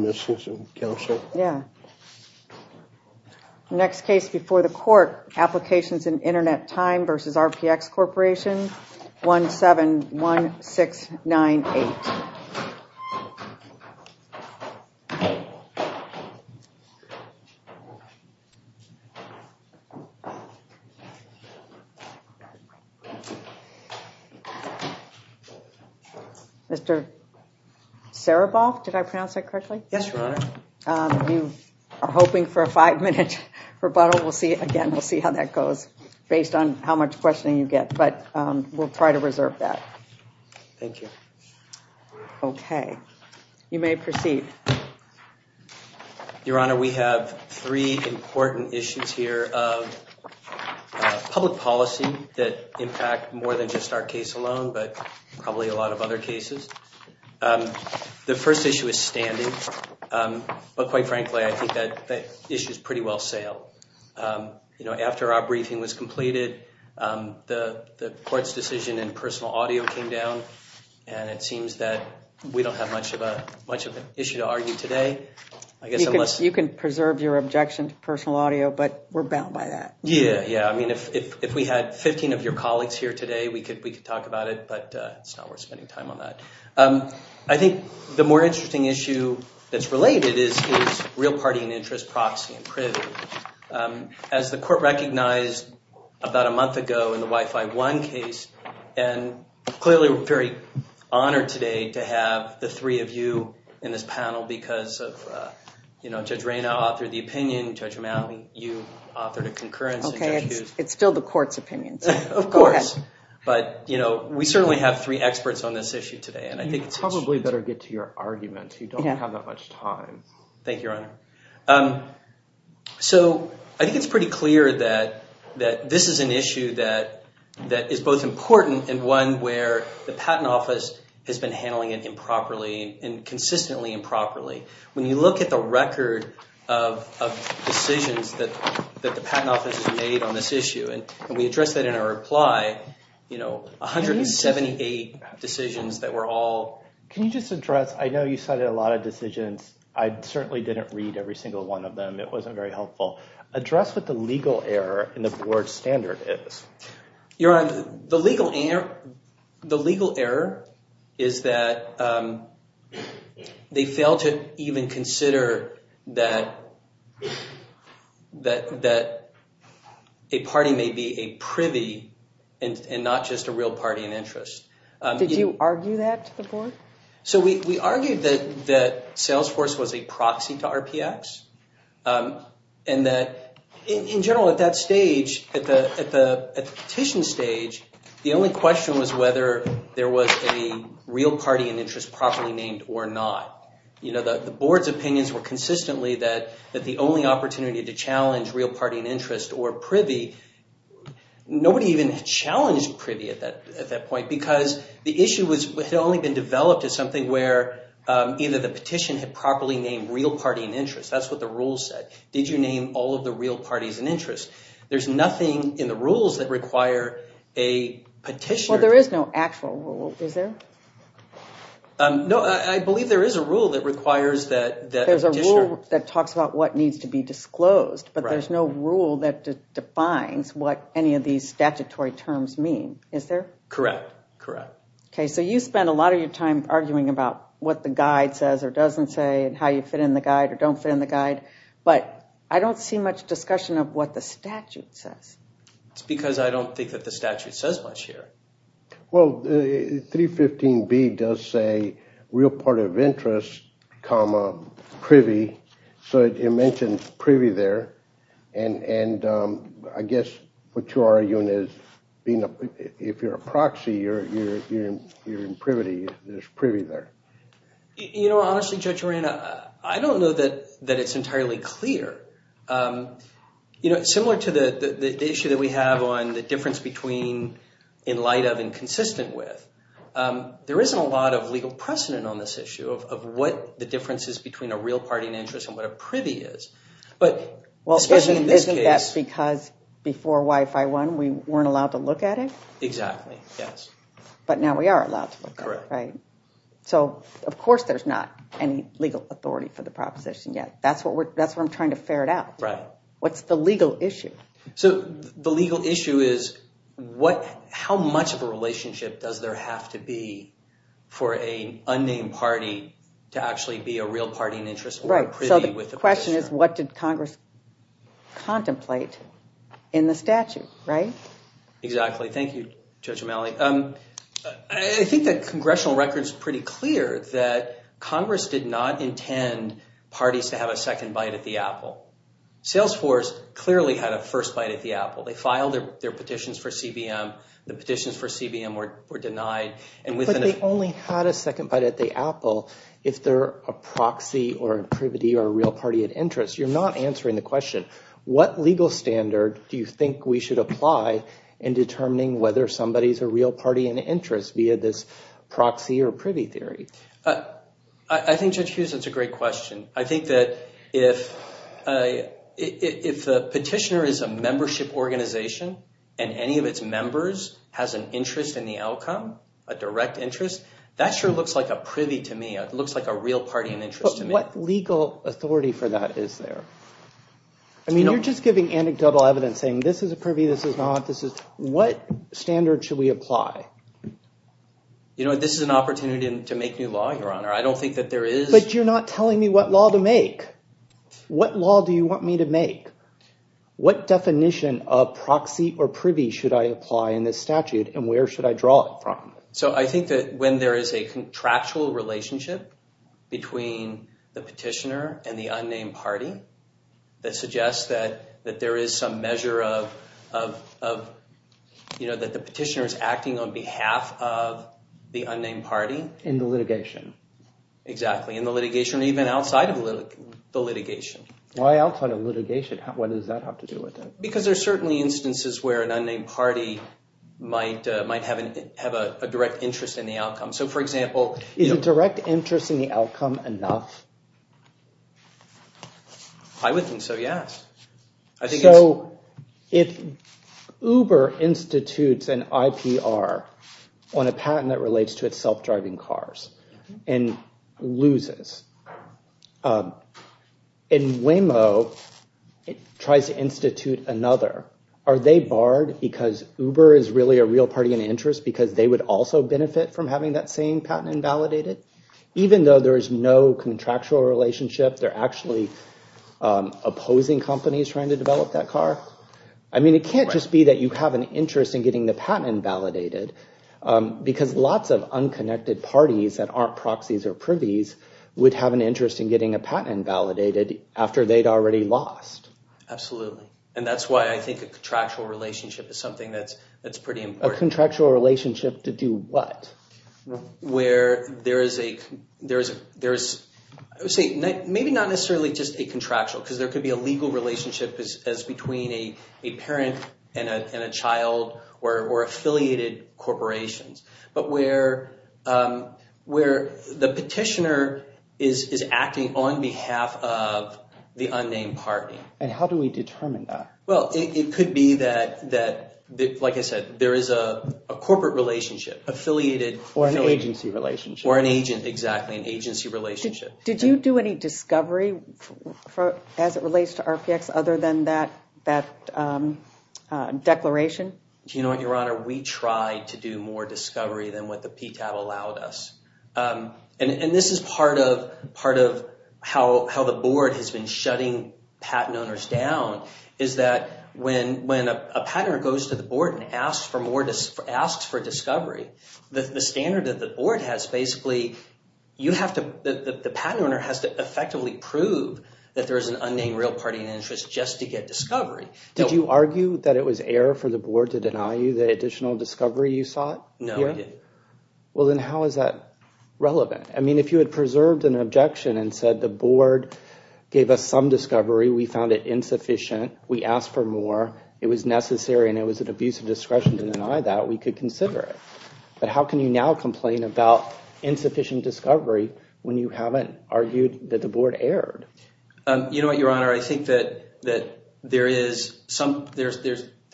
The next case before the court is Applications in Internet Time v. RPX Corporation, 171698. Mr. Sereboff, did I pronounce that correctly? Yes, Your Honor. You are hoping for a five-minute rebuttal. Again, we'll see how that goes based on how much questioning you get. But we'll try to reserve that. Thank you. Okay. You may proceed. Your Honor, we have three important issues here of public policy that impact more than just our case alone, but probably a lot of other cases. The first issue is standing. But quite frankly, I think that issue is pretty well sailed. After our briefing was completed, the court's decision in personal audio came down, and it seems that we don't have much of an issue to argue today. You can preserve your objection to personal audio, but we're bound by that. Yeah, yeah. I mean, if we had 15 of your colleagues here today, we could talk about it, but it's not worth spending time on that. I think the more interesting issue that's related is real party and interest proxy and privilege. As the court recognized about a month ago in the Wi-Fi One case, and clearly we're very honored today to have the three of you in this panel because of Judge Rayna authored the opinion, Judge O'Malley, you authored a concurrence. Okay, it's still the court's opinion. Of course. Go ahead. We certainly have three experts on this issue today. You probably better get to your argument. You don't have that much time. Thank you, Your Honor. I think it's pretty clear that this is an issue that is both important and one where the Patent Office has been handling it improperly and consistently improperly. When you look at the record of decisions that the Patent Office has made on this issue, and we addressed that in our reply, 178 decisions that were all— Can you just address—I know you cited a lot of decisions. I certainly didn't read every single one of them. It wasn't very helpful. Address what the legal error in the board standard is. Your Honor, the legal error is that they failed to even consider that a party may be a privy and not just a real party in interest. Did you argue that to the board? We argued that Salesforce was a proxy to RPX and that, in general, at that stage, at the petition stage, the only question was whether there was a real party in interest properly named or not. The board's opinions were consistently that the only opportunity to challenge real party in interest or privy— Either the petition had properly named real party in interest. That's what the rules said. Did you name all of the real parties in interest? There's nothing in the rules that require a petitioner— Well, there is no actual rule, is there? No, I believe there is a rule that requires that a petitioner— There's a rule that talks about what needs to be disclosed, but there's no rule that defines what any of these statutory terms mean, is there? Correct. Correct. Okay, so you spend a lot of your time arguing about what the guide says or doesn't say and how you fit in the guide or don't fit in the guide, but I don't see much discussion of what the statute says. It's because I don't think that the statute says much here. Well, 315B does say real party of interest comma privy, so it mentions privy there. And I guess what you're arguing is if you're a proxy, you're in privity. There's privy there. You know, honestly, Judge Moran, I don't know that it's entirely clear. You know, similar to the issue that we have on the difference between in light of and consistent with, there isn't a lot of legal precedent on this issue of what the difference is between a real party and interest and what a privy is. Well, isn't that because before WIFI won, we weren't allowed to look at it? Exactly, yes. But now we are allowed to look at it, right? Correct. So, of course, there's not any legal authority for the proposition yet. That's what I'm trying to ferret out. Right. What's the legal issue? So the legal issue is how much of a relationship does there have to be for an unnamed party to actually be a real party and interest? Right. So the question is what did Congress contemplate in the statute, right? Exactly. Thank you, Judge O'Malley. I think the congressional record is pretty clear that Congress did not intend parties to have a second bite at the apple. Salesforce clearly had a first bite at the apple. They filed their petitions for CBM. The petitions for CBM were denied. But they only had a second bite at the apple if they're a proxy or a privy or a real party at interest. You're not answering the question. What legal standard do you think we should apply in determining whether somebody is a real party and interest via this proxy or privy theory? I think, Judge Hughes, that's a great question. I think that if the petitioner is a membership organization and any of its members has an interest in the outcome, a direct interest, that sure looks like a privy to me. It looks like a real party and interest to me. What legal authority for that is there? I mean, you're just giving anecdotal evidence saying this is a privy, this is not, this is. What standard should we apply? You know, this is an opportunity to make new law, Your Honor. I don't think that there is. But you're not telling me what law to make. What law do you want me to make? What definition of proxy or privy should I apply in this statute and where should I draw it from? So I think that when there is a contractual relationship between the petitioner and the unnamed party that suggests that there is some measure of, you know, that the petitioner is acting on behalf of the unnamed party. In the litigation. Exactly. In the litigation or even outside of the litigation. Why outside of litigation? What does that have to do with it? Because there's certainly instances where an unnamed party might have a direct interest in the outcome. So, for example. Is a direct interest in the outcome enough? I would think so, yes. So if Uber institutes an IPR on a patent that relates to its self-driving cars and loses. In Waymo, it tries to institute another. Are they barred because Uber is really a real party in interest because they would also benefit from having that same patent invalidated? Even though there is no contractual relationship, they're actually opposing companies trying to develop that car. I mean, it can't just be that you have an interest in getting the patent invalidated. Because lots of unconnected parties that aren't proxies or privies would have an interest in getting a patent invalidated after they'd already lost. Absolutely. And that's why I think a contractual relationship is something that's pretty important. A contractual relationship to do what? Where there is maybe not necessarily just a contractual. Because there could be a legal relationship as between a parent and a child or affiliated corporations. But where the petitioner is acting on behalf of the unnamed party. And how do we determine that? Well, it could be that, like I said, there is a corporate relationship. Or an agency relationship. Exactly, an agency relationship. Did you do any discovery as it relates to RPX other than that declaration? Do you know what, Your Honor? We tried to do more discovery than what the PTAB allowed us. And this is part of how the board has been shutting patent owners down. Is that when a patent owner goes to the board and asks for discovery, the standard that the board has basically, the patent owner has to effectively prove that there is an unnamed real party in interest just to get discovery. Did you argue that it was error for the board to deny you the additional discovery you sought? No, I didn't. Well, then how is that relevant? I mean, if you had preserved an objection and said the board gave us some discovery, we found it insufficient, we asked for more, it was necessary, and it was an abuse of discretion to deny that, we could consider it. But how can you now complain about insufficient discovery when you haven't argued that the board erred? You know what, Your Honor? I think that there is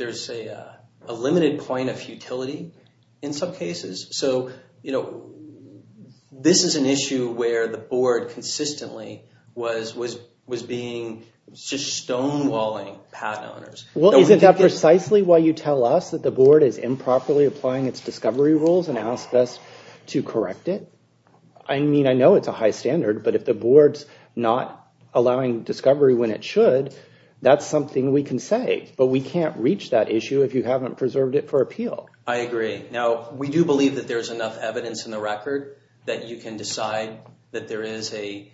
a limited point of futility in some cases. So, you know, this is an issue where the board consistently was being just stonewalling patent owners. Well, isn't that precisely why you tell us that the board is improperly applying its discovery rules and asked us to correct it? I mean, I know it's a high standard, but if the board's not allowing discovery when it should, that's something we can say, but we can't reach that issue if you haven't preserved it for appeal. I agree. Now, we do believe that there's enough evidence in the record that you can decide that there is an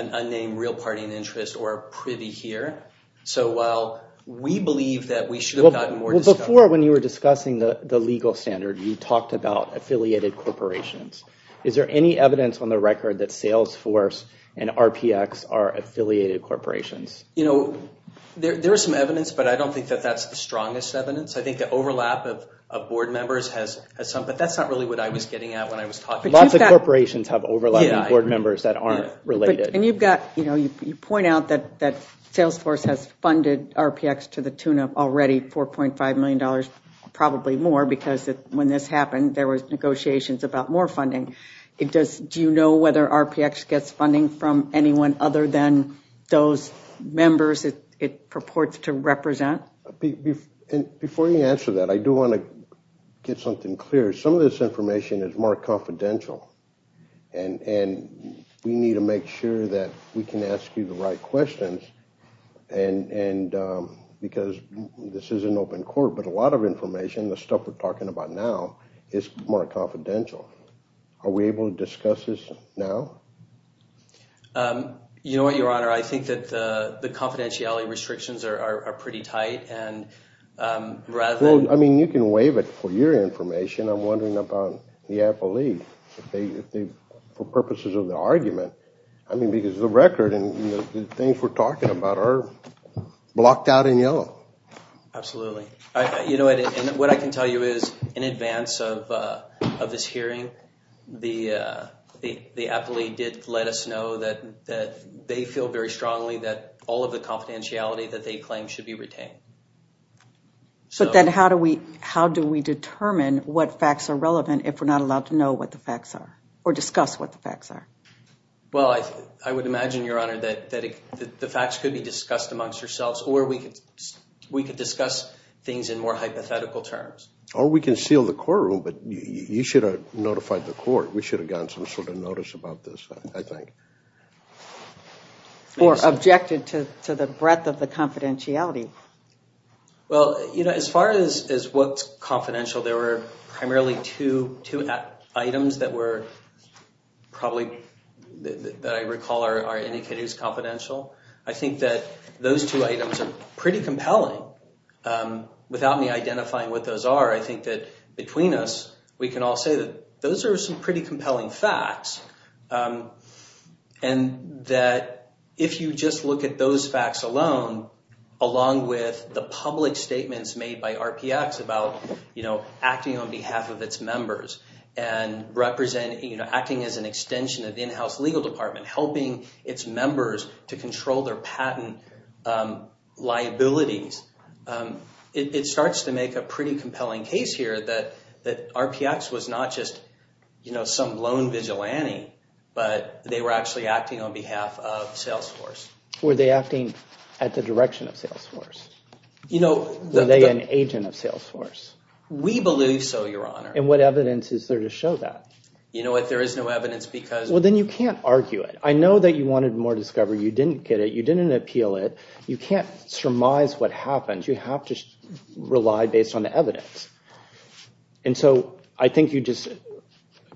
unnamed real party in interest or a privy here. So while we believe that we should have gotten more discovery— Well, before, when you were discussing the legal standard, you talked about affiliated corporations. Is there any evidence on the record that Salesforce and RPX are affiliated corporations? You know, there is some evidence, but I don't think that that's the strongest evidence. I think the overlap of board members has some, but that's not really what I was getting at when I was talking. Lots of corporations have overlapping board members that aren't related. And you've got, you know, you point out that Salesforce has funded RPX to the tune of already $4.5 million, probably more because when this happened, there was negotiations about more funding. Do you know whether RPX gets funding from anyone other than those members it purports to represent? Before you answer that, I do want to get something clear. Some of this information is more confidential, and we need to make sure that we can ask you the right questions because this is an open court. But a lot of information, the stuff we're talking about now, is more confidential. Are we able to discuss this now? You know what, Your Honor, I think that the confidentiality restrictions are pretty tight, and rather than Well, I mean, you can waive it for your information. I'm wondering about the appellee for purposes of the argument. I mean, because the record and the things we're talking about are blocked out in yellow. Absolutely. What I can tell you is in advance of this hearing, the appellee did let us know that they feel very strongly that all of the confidentiality that they claim should be retained. But then how do we determine what facts are relevant if we're not allowed to know what the facts are or discuss what the facts are? Well, I would imagine, Your Honor, that the facts could be discussed amongst yourselves, or we could discuss things in more hypothetical terms. Or we can seal the courtroom, but you should have notified the court. We should have gotten some sort of notice about this, I think. Or objected to the breadth of the confidentiality. Well, you know, as far as what's confidential, there were primarily two items that were probably, that I recall, are indicated as confidential. I think that those two items are pretty compelling. Without me identifying what those are, I think that between us, we can all say that those are some pretty compelling facts. And that if you just look at those facts alone, along with the public statements made by RPX about, you know, acting on behalf of its members and acting as an extension of the in-house legal department, helping its members to control their patent liabilities, it starts to make a pretty compelling case here that RPX was not just, you know, some lone vigilante, but they were actually acting on behalf of Salesforce. Were they acting at the direction of Salesforce? You know, the... Were they an agent of Salesforce? We believe so, Your Honor. And what evidence is there to show that? You know what, there is no evidence because... Well, then you can't argue it. I know that you wanted more discovery. You didn't get it. You didn't appeal it. You can't surmise what happened. You have to rely based on the evidence. And so I think you just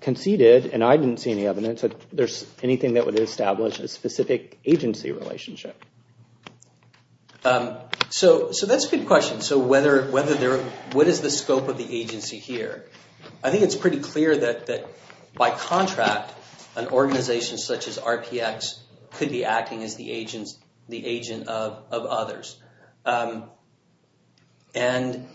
conceded, and I didn't see any evidence, that there's anything that would establish a specific agency relationship. So that's a good question. So whether there... What is the scope of the agency here? I think it's pretty clear that by contract, an organization such as RPX could be acting as the agent of others. And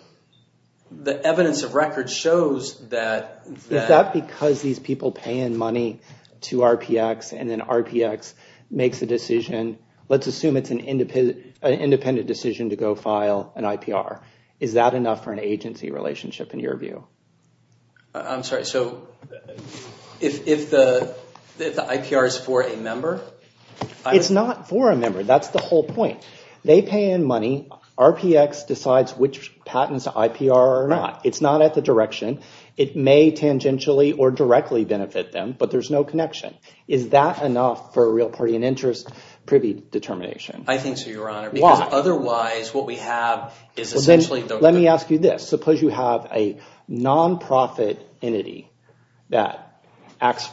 the evidence of record shows that... Is that because these people pay in money to RPX, and then RPX makes a decision? Let's assume it's an independent decision to go file an IPR. Is that enough for an agency relationship in your view? I'm sorry. So if the IPR is for a member? It's not for a member. That's the whole point. They pay in money. RPX decides which patents to IPR or not. It's not at the direction. It may tangentially or directly benefit them, but there's no connection. Is that enough for a real party in interest privy determination? I think so, Your Honor. Why? Otherwise, what we have is essentially... Let me ask you this. Suppose you have a nonprofit entity that acts...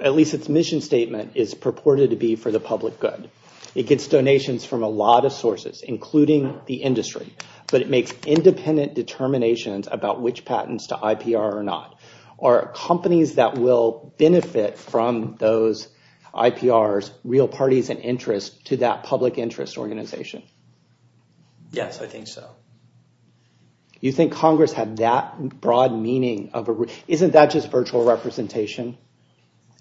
At least its mission statement is purported to be for the public good. It gets donations from a lot of sources, including the industry. But it makes independent determinations about which patents to IPR or not. Are companies that will benefit from those IPRs real parties in interest to that public interest organization? Yes, I think so. You think Congress had that broad meaning of a... Isn't that just virtual representation?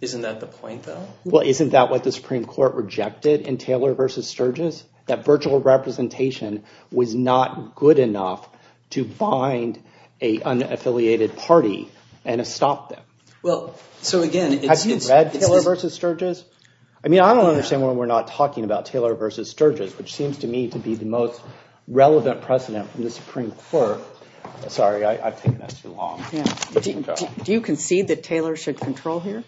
Isn't that the point, though? Well, isn't that what the Supreme Court rejected in Taylor v. Sturgis? That virtual representation was not good enough to bind an unaffiliated party and stop them. Well, so again, it's... Have you read Taylor v. Sturgis? I mean, I don't understand why we're not talking about Taylor v. Sturgis, which seems to me to be the most relevant precedent from the Supreme Court. Sorry, I've taken that too long. Do you concede that Taylor should control here?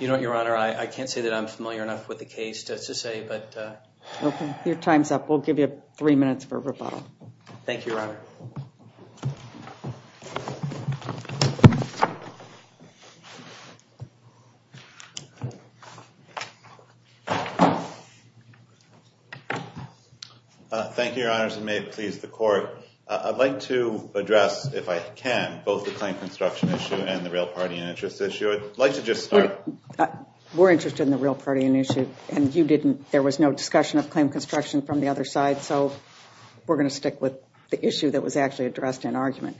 You know what, Your Honor? I can't say that I'm familiar enough with the case to say, but... Okay, your time's up. We'll give you three minutes for rebuttal. Thank you, Your Honor. Thank you, Your Honors, and may it please the Court. I'd like to address, if I can, both the claim construction issue and the real party and interest issue. I'd like to just start... We're interested in the real party and issue, and you didn't. There was no discussion of claim construction from the other side, so we're going to stick with the issue that was actually addressed in argument.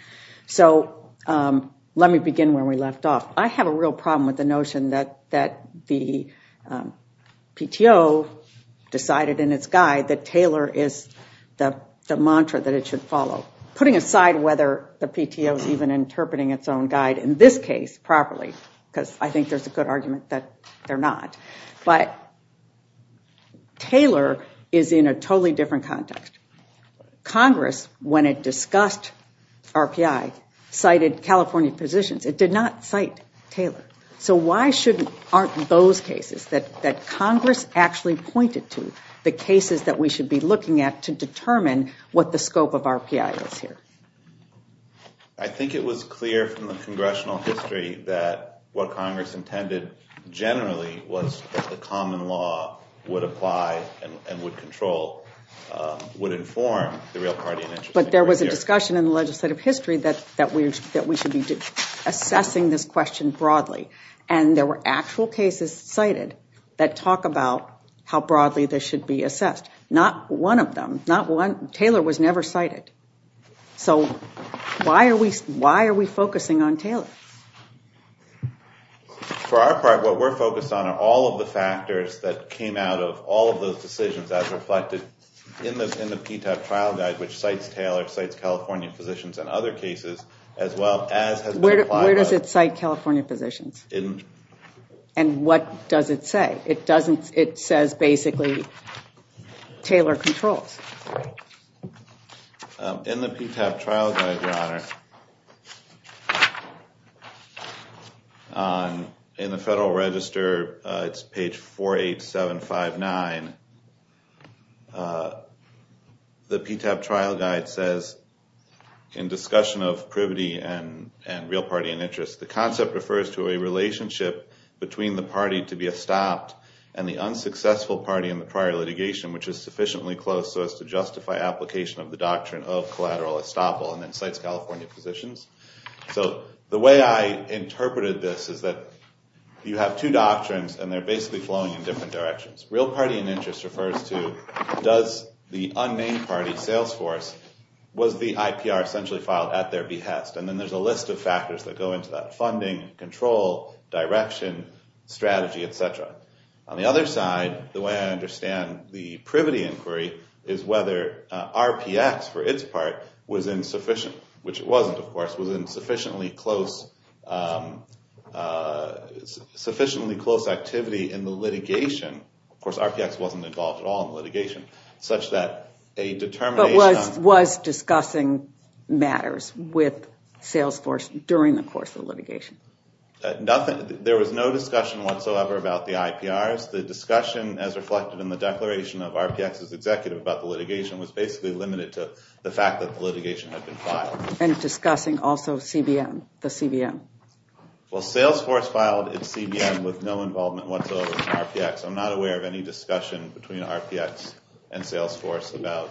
So let me begin where we left off. I have a real problem with the notion that the PTO decided in its guide that Taylor is the mantra that it should follow, putting aside whether the PTO is even interpreting its own guide in this case properly, because I think there's a good argument that they're not. But Taylor is in a totally different context. Congress, when it discussed RPI, cited California positions. It did not cite Taylor. So why aren't those cases that Congress actually pointed to the cases that we should be looking at to determine what the scope of RPI is here? I think it was clear from the congressional history that what Congress intended generally was that the common law would apply and would control, would inform the real party and interest. But there was a discussion in the legislative history that we should be assessing this question broadly, and there were actual cases cited that talk about how broadly this should be assessed. Not one of them, not one. Taylor was never cited. So why are we focusing on Taylor? For our part, what we're focused on are all of the factors that came out of all of those decisions as reflected in the PTAC trial guide, which cites Taylor, cites California positions in other cases, as well as has been applied. Where does it cite California positions? And what does it say? It says basically Taylor controls. In the PTAC trial guide, Your Honor, in the Federal Register, it's page 48759. The PTAC trial guide says, in discussion of privity and real party and interest, the concept refers to a relationship between the party to be estopped and the unsuccessful party in the prior litigation, which is sufficiently close so as to justify application of the doctrine of collateral estoppel, and then cites California positions. So the way I interpreted this is that you have two doctrines, and they're basically flowing in different directions. Real party and interest refers to does the unnamed party, Salesforce, was the IPR essentially filed at their behest? And then there's a list of factors that go into that. Funding, control, direction, strategy, et cetera. On the other side, the way I understand the privity inquiry is whether RPX, for its part, was insufficient, which it wasn't, of course, was in sufficiently close activity in the litigation. Of course, RPX wasn't involved at all in the litigation, such that a determination on matters with Salesforce during the course of litigation. There was no discussion whatsoever about the IPRs. The discussion, as reflected in the declaration of RPX's executive about the litigation, was basically limited to the fact that the litigation had been filed. And discussing also CBM, the CBM. Well, Salesforce filed its CBM with no involvement whatsoever in RPX. I'm not aware of any discussion between RPX and Salesforce about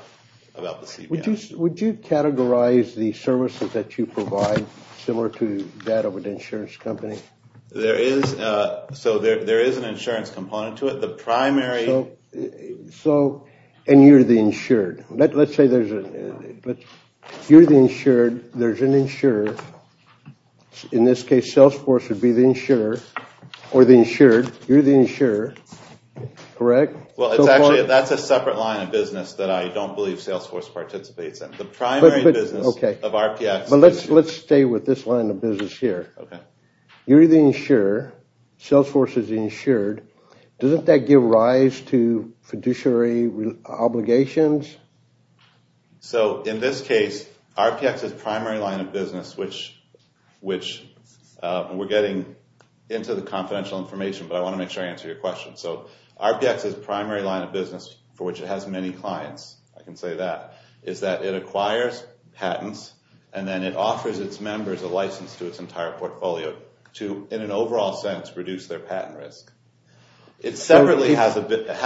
the CBM. Would you categorize the services that you provide similar to that of an insurance company? There is an insurance component to it. The primary... So, and you're the insured. Let's say you're the insured, there's an insurer. You're the insurer, correct? Well, actually, that's a separate line of business that I don't believe Salesforce participates in. The primary business of RPX... But let's stay with this line of business here. You're the insurer, Salesforce is the insured. Doesn't that give rise to fiduciary obligations? So, in this case, RPX's primary line of business, which... We're getting into the confidential information, but I want to make sure I answer your question. So, RPX's primary line of business, for which it has many clients, I can say that, is that it acquires patents and then it offers its members a license to its entire portfolio to, in an overall sense, reduce their patent risk. It separately has a business...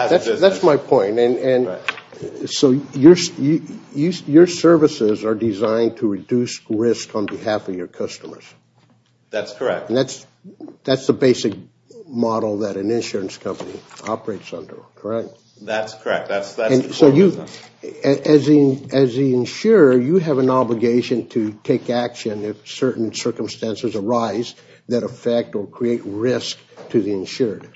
That's correct. That's the basic model that an insurance company operates under, correct? That's correct. And so, as the insurer, you have an obligation to take action if certain circumstances arise that affect or create risk to the insured.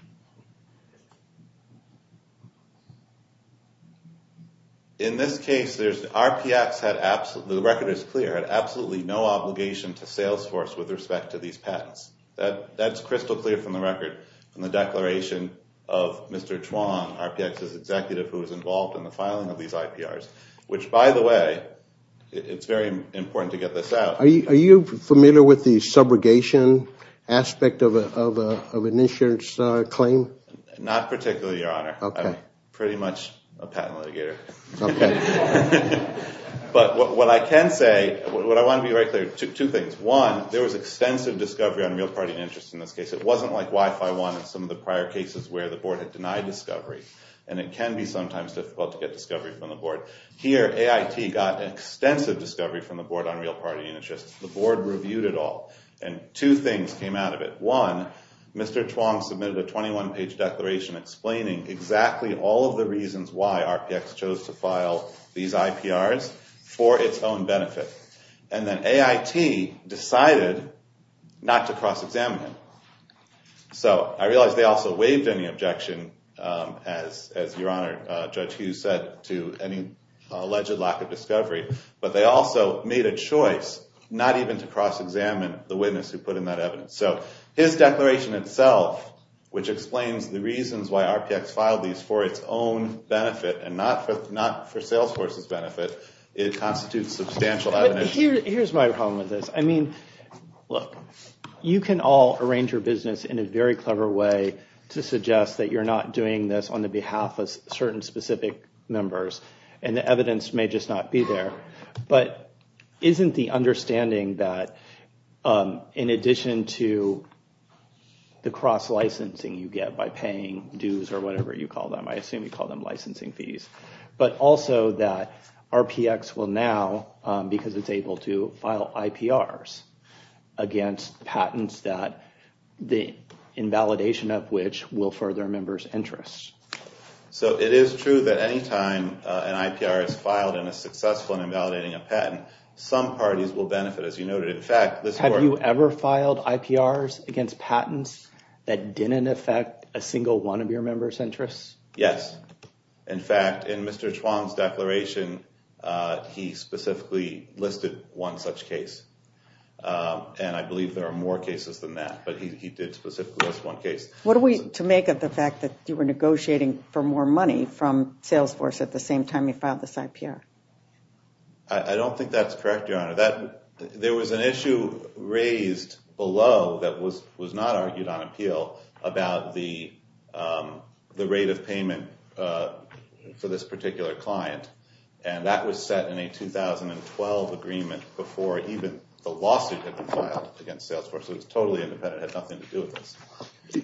In this case, there's... The record is clear. It had absolutely no obligation to Salesforce with respect to these patents. That's crystal clear from the record, from the declaration of Mr. Chuang, RPX's executive who was involved in the filing of these IPRs, which, by the way, it's very important to get this out. Are you familiar with the subrogation aspect of an insurance claim? Not particularly, Your Honor. I'm pretty much a patent litigator. But what I can say, what I want to be very clear, two things. One, there was extensive discovery on real party interest in this case. It wasn't like WIFI-1 and some of the prior cases where the board had denied discovery, and it can be sometimes difficult to get discovery from the board. Here, AIT got extensive discovery from the board on real party interest. The board reviewed it all, and two things came out of it. One, Mr. Chuang submitted a 21-page declaration explaining exactly all of the reasons why RPX chose to file these IPRs for its own benefit. And then AIT decided not to cross-examine it. So I realize they also waived any objection, as Your Honor, Judge Hughes said, to any alleged lack of discovery, but they also made a choice not even to cross-examine the witness who put in that evidence. So his declaration itself, which explains the reasons why RPX filed these for its own benefit and not for Salesforce's benefit, it constitutes substantial evidence. Here's my problem with this. I mean, look, you can all arrange your business in a very clever way to suggest that you're not doing this on the behalf of certain specific members, and the evidence may just not be there. But isn't the understanding that in addition to the cross-licensing you get by paying dues or whatever you call them, I assume you call them licensing fees, but also that RPX will now, because it's able to, file IPRs against patents that the invalidation of which will further members' interests? So it is true that any time an IPR is filed and is successful in invalidating a patent, some parties will benefit, as you noted. In fact, this court— Have you ever filed IPRs against patents that didn't affect a single one of your members' interests? Yes. In fact, in Mr. Chuang's declaration, he specifically listed one such case, and I believe there are more cases than that, but he did specifically list one case. What are we to make of the fact that you were negotiating for more money from Salesforce at the same time you filed this IPR? I don't think that's correct, Your Honor. There was an issue raised below that was not argued on appeal about the rate of payment for this particular client, and that was set in a 2012 agreement before even the lawsuit had been filed against Salesforce. It was totally independent. It had nothing to do with this.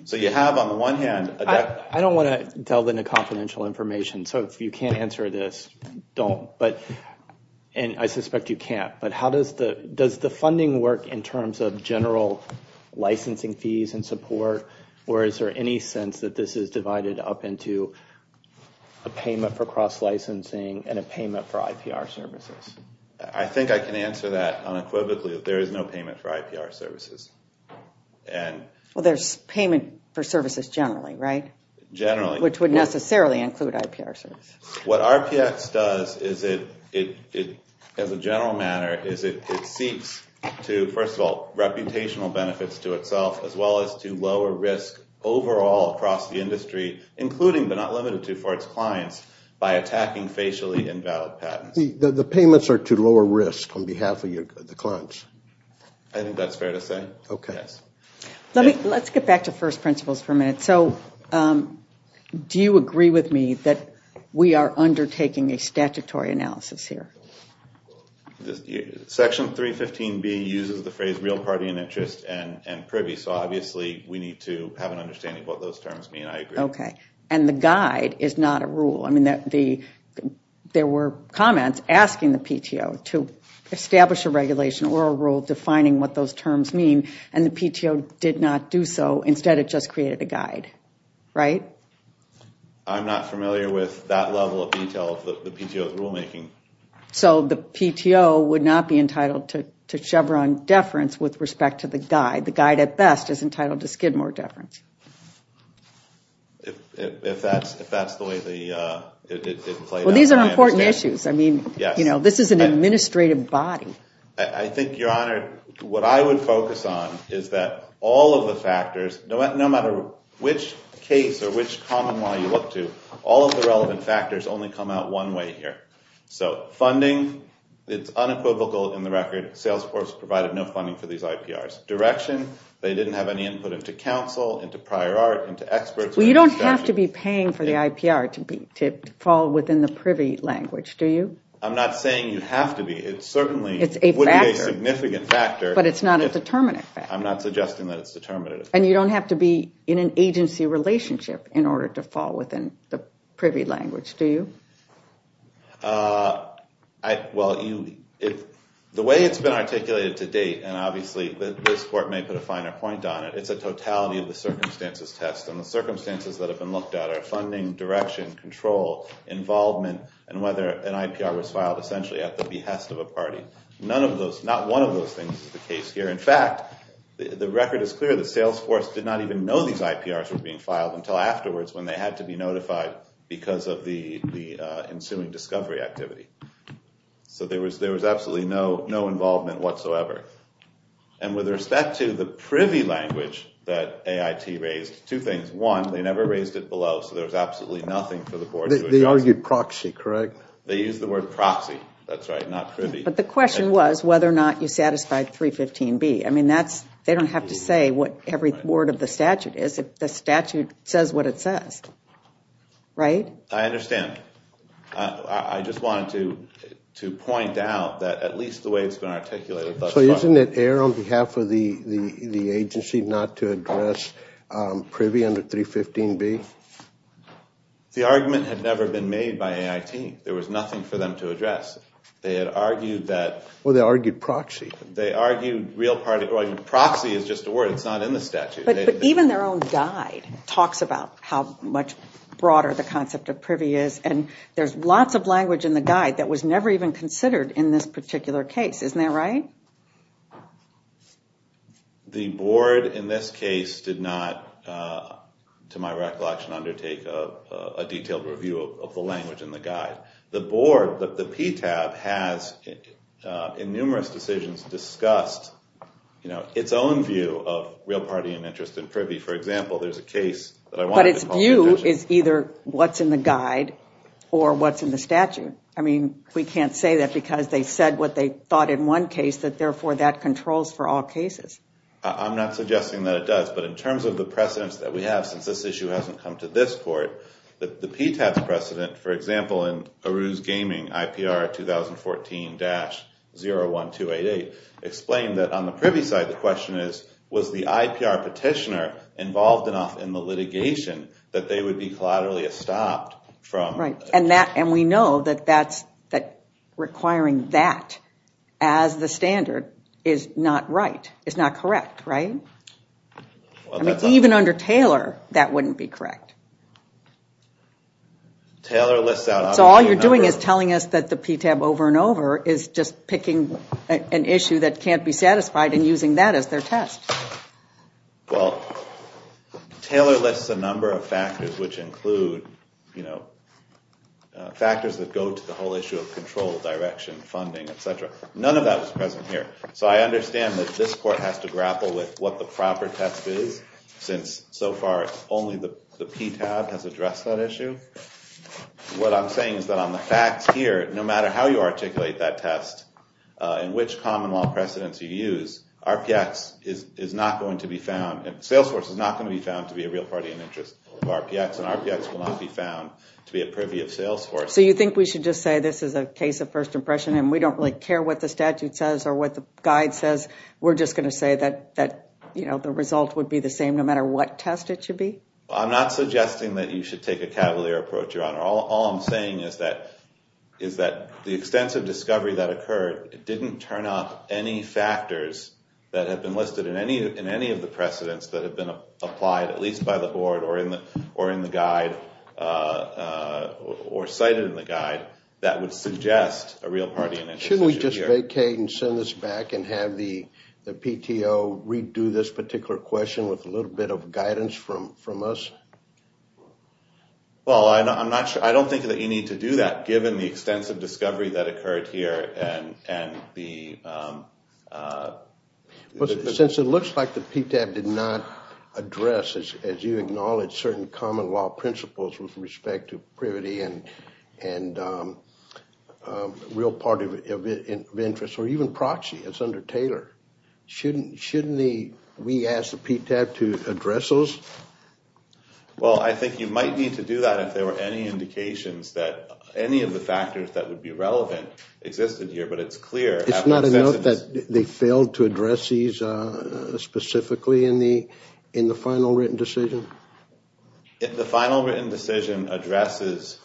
So you have, on the one hand— I don't want to delve into confidential information, so if you can't answer this, don't. And I suspect you can't, but does the funding work in terms of general licensing fees and support, or is there any sense that this is divided up into a payment for cross-licensing and a payment for IPR services? I think I can answer that unequivocally, that there is no payment for IPR services. Well, there's payment for services generally, right? Generally. Which would necessarily include IPR services. What RPX does, as a general matter, is it seeks to, first of all, reputational benefits to itself, as well as to lower risk overall across the industry, including but not limited to for its clients, by attacking facially invalid patents. The payments are to lower risk on behalf of the clients. I think that's fair to say. Okay. Let's get back to first principles for a minute. So do you agree with me that we are undertaking a statutory analysis here? Section 315B uses the phrase real party and interest and privy, so obviously we need to have an understanding of what those terms mean. I agree. Okay. And the guide is not a rule. There were comments asking the PTO to establish a regulation or a rule defining what those terms mean, and the PTO did not do so. Instead, it just created a guide, right? I'm not familiar with that level of detail of the PTO's rulemaking. So the PTO would not be entitled to Chevron deference with respect to the guide. The guide, at best, is entitled to Skidmore deference. If that's the way it played out. Well, these are important issues. I mean, you know, this is an administrative body. I think, Your Honor, what I would focus on is that all of the factors, no matter which case or which common law you look to, all of the relevant factors only come out one way here. So funding, it's unequivocal in the record. Salesforce provided no funding for these IPRs. They didn't have any input into counsel, into prior art, into experts. Well, you don't have to be paying for the IPR to fall within the privy language, do you? I'm not saying you have to be. It certainly would be a significant factor. But it's not a determinate factor. I'm not suggesting that it's determinate. And you don't have to be in an agency relationship in order to fall within the privy language, do you? Well, the way it's been articulated to date, and obviously this Court may put a finer point on it, it's a totality of the circumstances test. And the circumstances that have been looked at are funding, direction, control, involvement, and whether an IPR was filed essentially at the behest of a party. None of those, not one of those things is the case here. In fact, the record is clear that Salesforce did not even know these IPRs were being filed until afterwards when they had to be notified because of the ensuing discovery activity. So there was absolutely no involvement whatsoever. And with respect to the privy language that AIT raised, two things. One, they never raised it below, so there was absolutely nothing for the board to adjust. They argued proxy, correct? They used the word proxy. That's right, not privy. But the question was whether or not you satisfied 315B. I mean, they don't have to say what every word of the statute is. The statute says what it says. Right? I understand. I just wanted to point out that at least the way it's been articulated thus far. So isn't it air on behalf of the agency not to address privy under 315B? The argument had never been made by AIT. There was nothing for them to address. They had argued that. Well, they argued proxy. They argued proxy is just a word. It's not in the statute. But even their own guide talks about how much broader the concept of privy is, and there's lots of language in the guide that was never even considered in this particular case. Isn't that right? The board in this case did not, to my recollection, undertake a detailed review of the language in the guide. The board, the PTAB, has, in numerous decisions, discussed its own view of real party and interest in privy. For example, there's a case that I wanted to talk about. But its view is either what's in the guide or what's in the statute. I mean, we can't say that because they said what they thought in one case, that therefore that controls for all cases. I'm not suggesting that it does, but in terms of the precedents that we have since this issue hasn't come to this court, the PTAB's precedent, for example, in Aruz Gaming, IPR 2014-01288, explained that on the privy side, the question is, was the IPR petitioner involved enough in the litigation that they would be collaterally estopped from? Right. And we know that requiring that as the standard is not right, is not correct, right? I mean, even under Taylor, that wouldn't be correct. Taylor lists out... So all you're doing is telling us that the PTAB over and over is just picking an issue that can't be satisfied and using that as their test. Well, Taylor lists a number of factors which include, you know, factors that go to the whole issue of control, direction, funding, et cetera. None of that was present here. So I understand that this court has to grapple with what the proper test is since so far only the PTAB has addressed that issue. What I'm saying is that on the facts here, no matter how you articulate that test and which common law precedents you use, RPX is not going to be found... Salesforce is not going to be found to be a real party in interest of RPX, and RPX will not be found to be a privy of Salesforce. So you think we should just say this is a case of first impression and we don't really care what the statute says or what the guide says? We're just going to say that, you know, the result would be the same no matter what test it should be? I'm not suggesting that you should take a cavalier approach, Your Honor. All I'm saying is that the extensive discovery that occurred didn't turn off any factors that have been listed in any of the precedents that have been applied at least by the board or in the guide or cited in the guide that would suggest a real party in interest. Shouldn't we just vacate and send this back and have the PTO redo this particular question with a little bit of guidance from us? Well, I don't think that you need to do that given the extensive discovery that occurred here and the... Since it looks like the PTAB did not address, as you acknowledge, certain common law principles with respect to privity and real party of interest or even proxy as under Taylor. Shouldn't we ask the PTAB to address those? Well, I think you might need to do that if there were any indications that any of the factors that would be relevant existed here, but it's clear... It's not enough that they failed to address these specifically in the final written decision? The final written decision addresses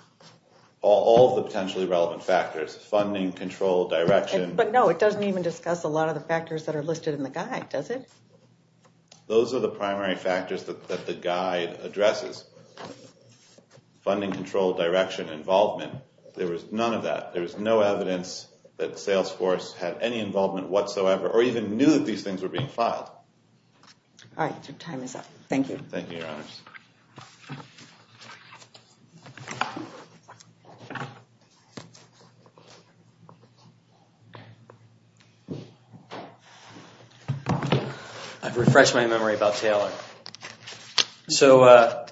all of the potentially relevant factors. Funding, control, direction... But no, it doesn't even discuss a lot of the factors that are listed in the guide, does it? Those are the primary factors that the guide addresses. Funding, control, direction, involvement. There was none of that. There was no evidence that Salesforce had any involvement whatsoever or even knew that these things were being filed. All right, your time is up. Thank you. Thank you, your honors. I've refreshed my memory about Taylor. So,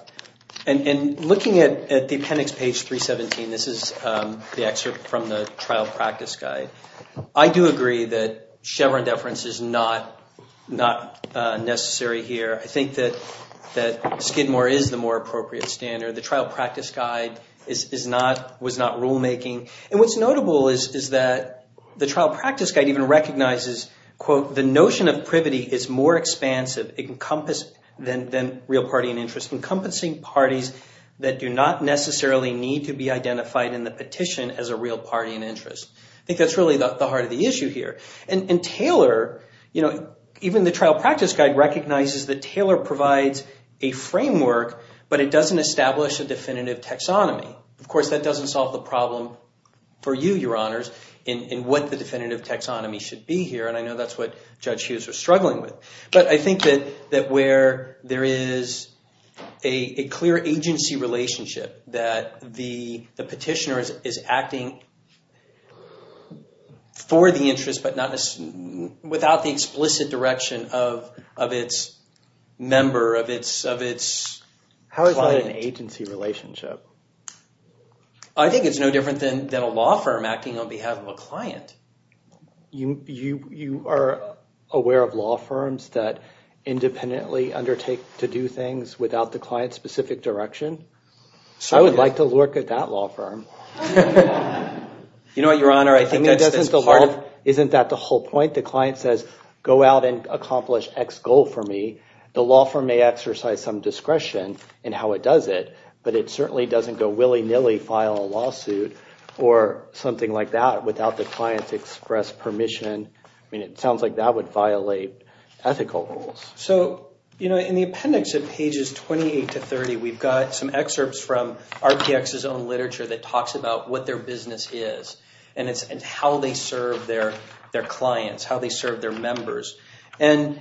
in looking at the appendix page 317, this is the excerpt from the trial practice guide, I do agree that Chevron deference is not necessary here. I think that Skidmore is the more appropriate standard. The trial practice guide was not rulemaking. And what's notable is that the trial practice guide even recognizes, quote, the notion of privity is more expansive than real party and interest, encompassing parties that do not necessarily need to be identified in the petition as a real party and interest. I think that's really the heart of the issue here. And Taylor, you know, even the trial practice guide recognizes that Taylor provides a framework, but it doesn't establish a definitive taxonomy. Of course, that doesn't solve the problem for you, your honors, in what the definitive taxonomy should be here. And I know that's what Judge Hughes was struggling with. But I think that where there is a clear agency relationship that the petitioner is acting for the interest, without the explicit direction of its member, of its client. How is that an agency relationship? I think it's no different than a law firm acting on behalf of a client. You are aware of law firms that independently undertake to do things without the client's specific direction? I would like to look at that law firm. You know what, your honor, I think that's part of... Isn't that the whole point? The client says, go out and accomplish X goal for me. The law firm may exercise some discretion in how it does it, but it certainly doesn't go willy-nilly, file a lawsuit or something like that without the client's express permission. I mean, it sounds like that would violate ethical rules. So, you know, in the appendix at pages 28 to 30, we've got some excerpts from RTX's own literature that talks about what their business is and how they serve their clients, how they serve their members. And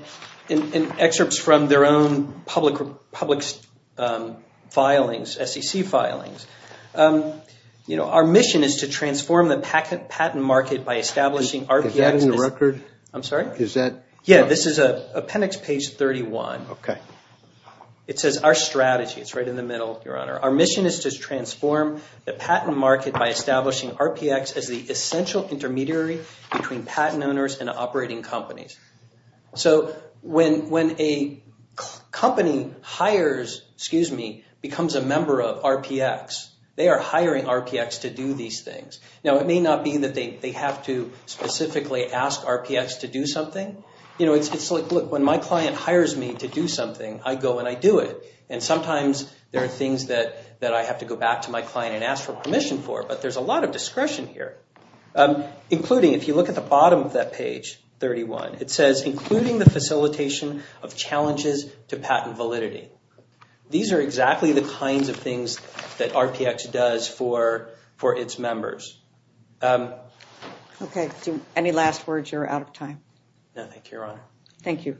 excerpts from their own public filings, SEC filings. You know, our mission is to transform the patent market by establishing RTX's... Is that in the record? I'm sorry? Is that... Yeah, this is appendix page 31. Okay. It says, our strategy. It's right in the middle, your honor. Our mission is to transform the patent market by establishing RPX as the essential intermediary between patent owners and operating companies. So when a company hires, excuse me, becomes a member of RPX, they are hiring RPX to do these things. Now, it may not be that they have to specifically ask RPX to do something. You know, it's like, look, when my client hires me to do something, I go and I do it. And sometimes there are things that I have to go back to my client and ask for permission for, but there's a lot of discretion here. Including, if you look at the bottom of that page, 31, it says, including the facilitation of challenges to patent validity. These are exactly the kinds of things that RPX does for its members. Any last words? You're out of time. No, thank you, your honor. Thank you.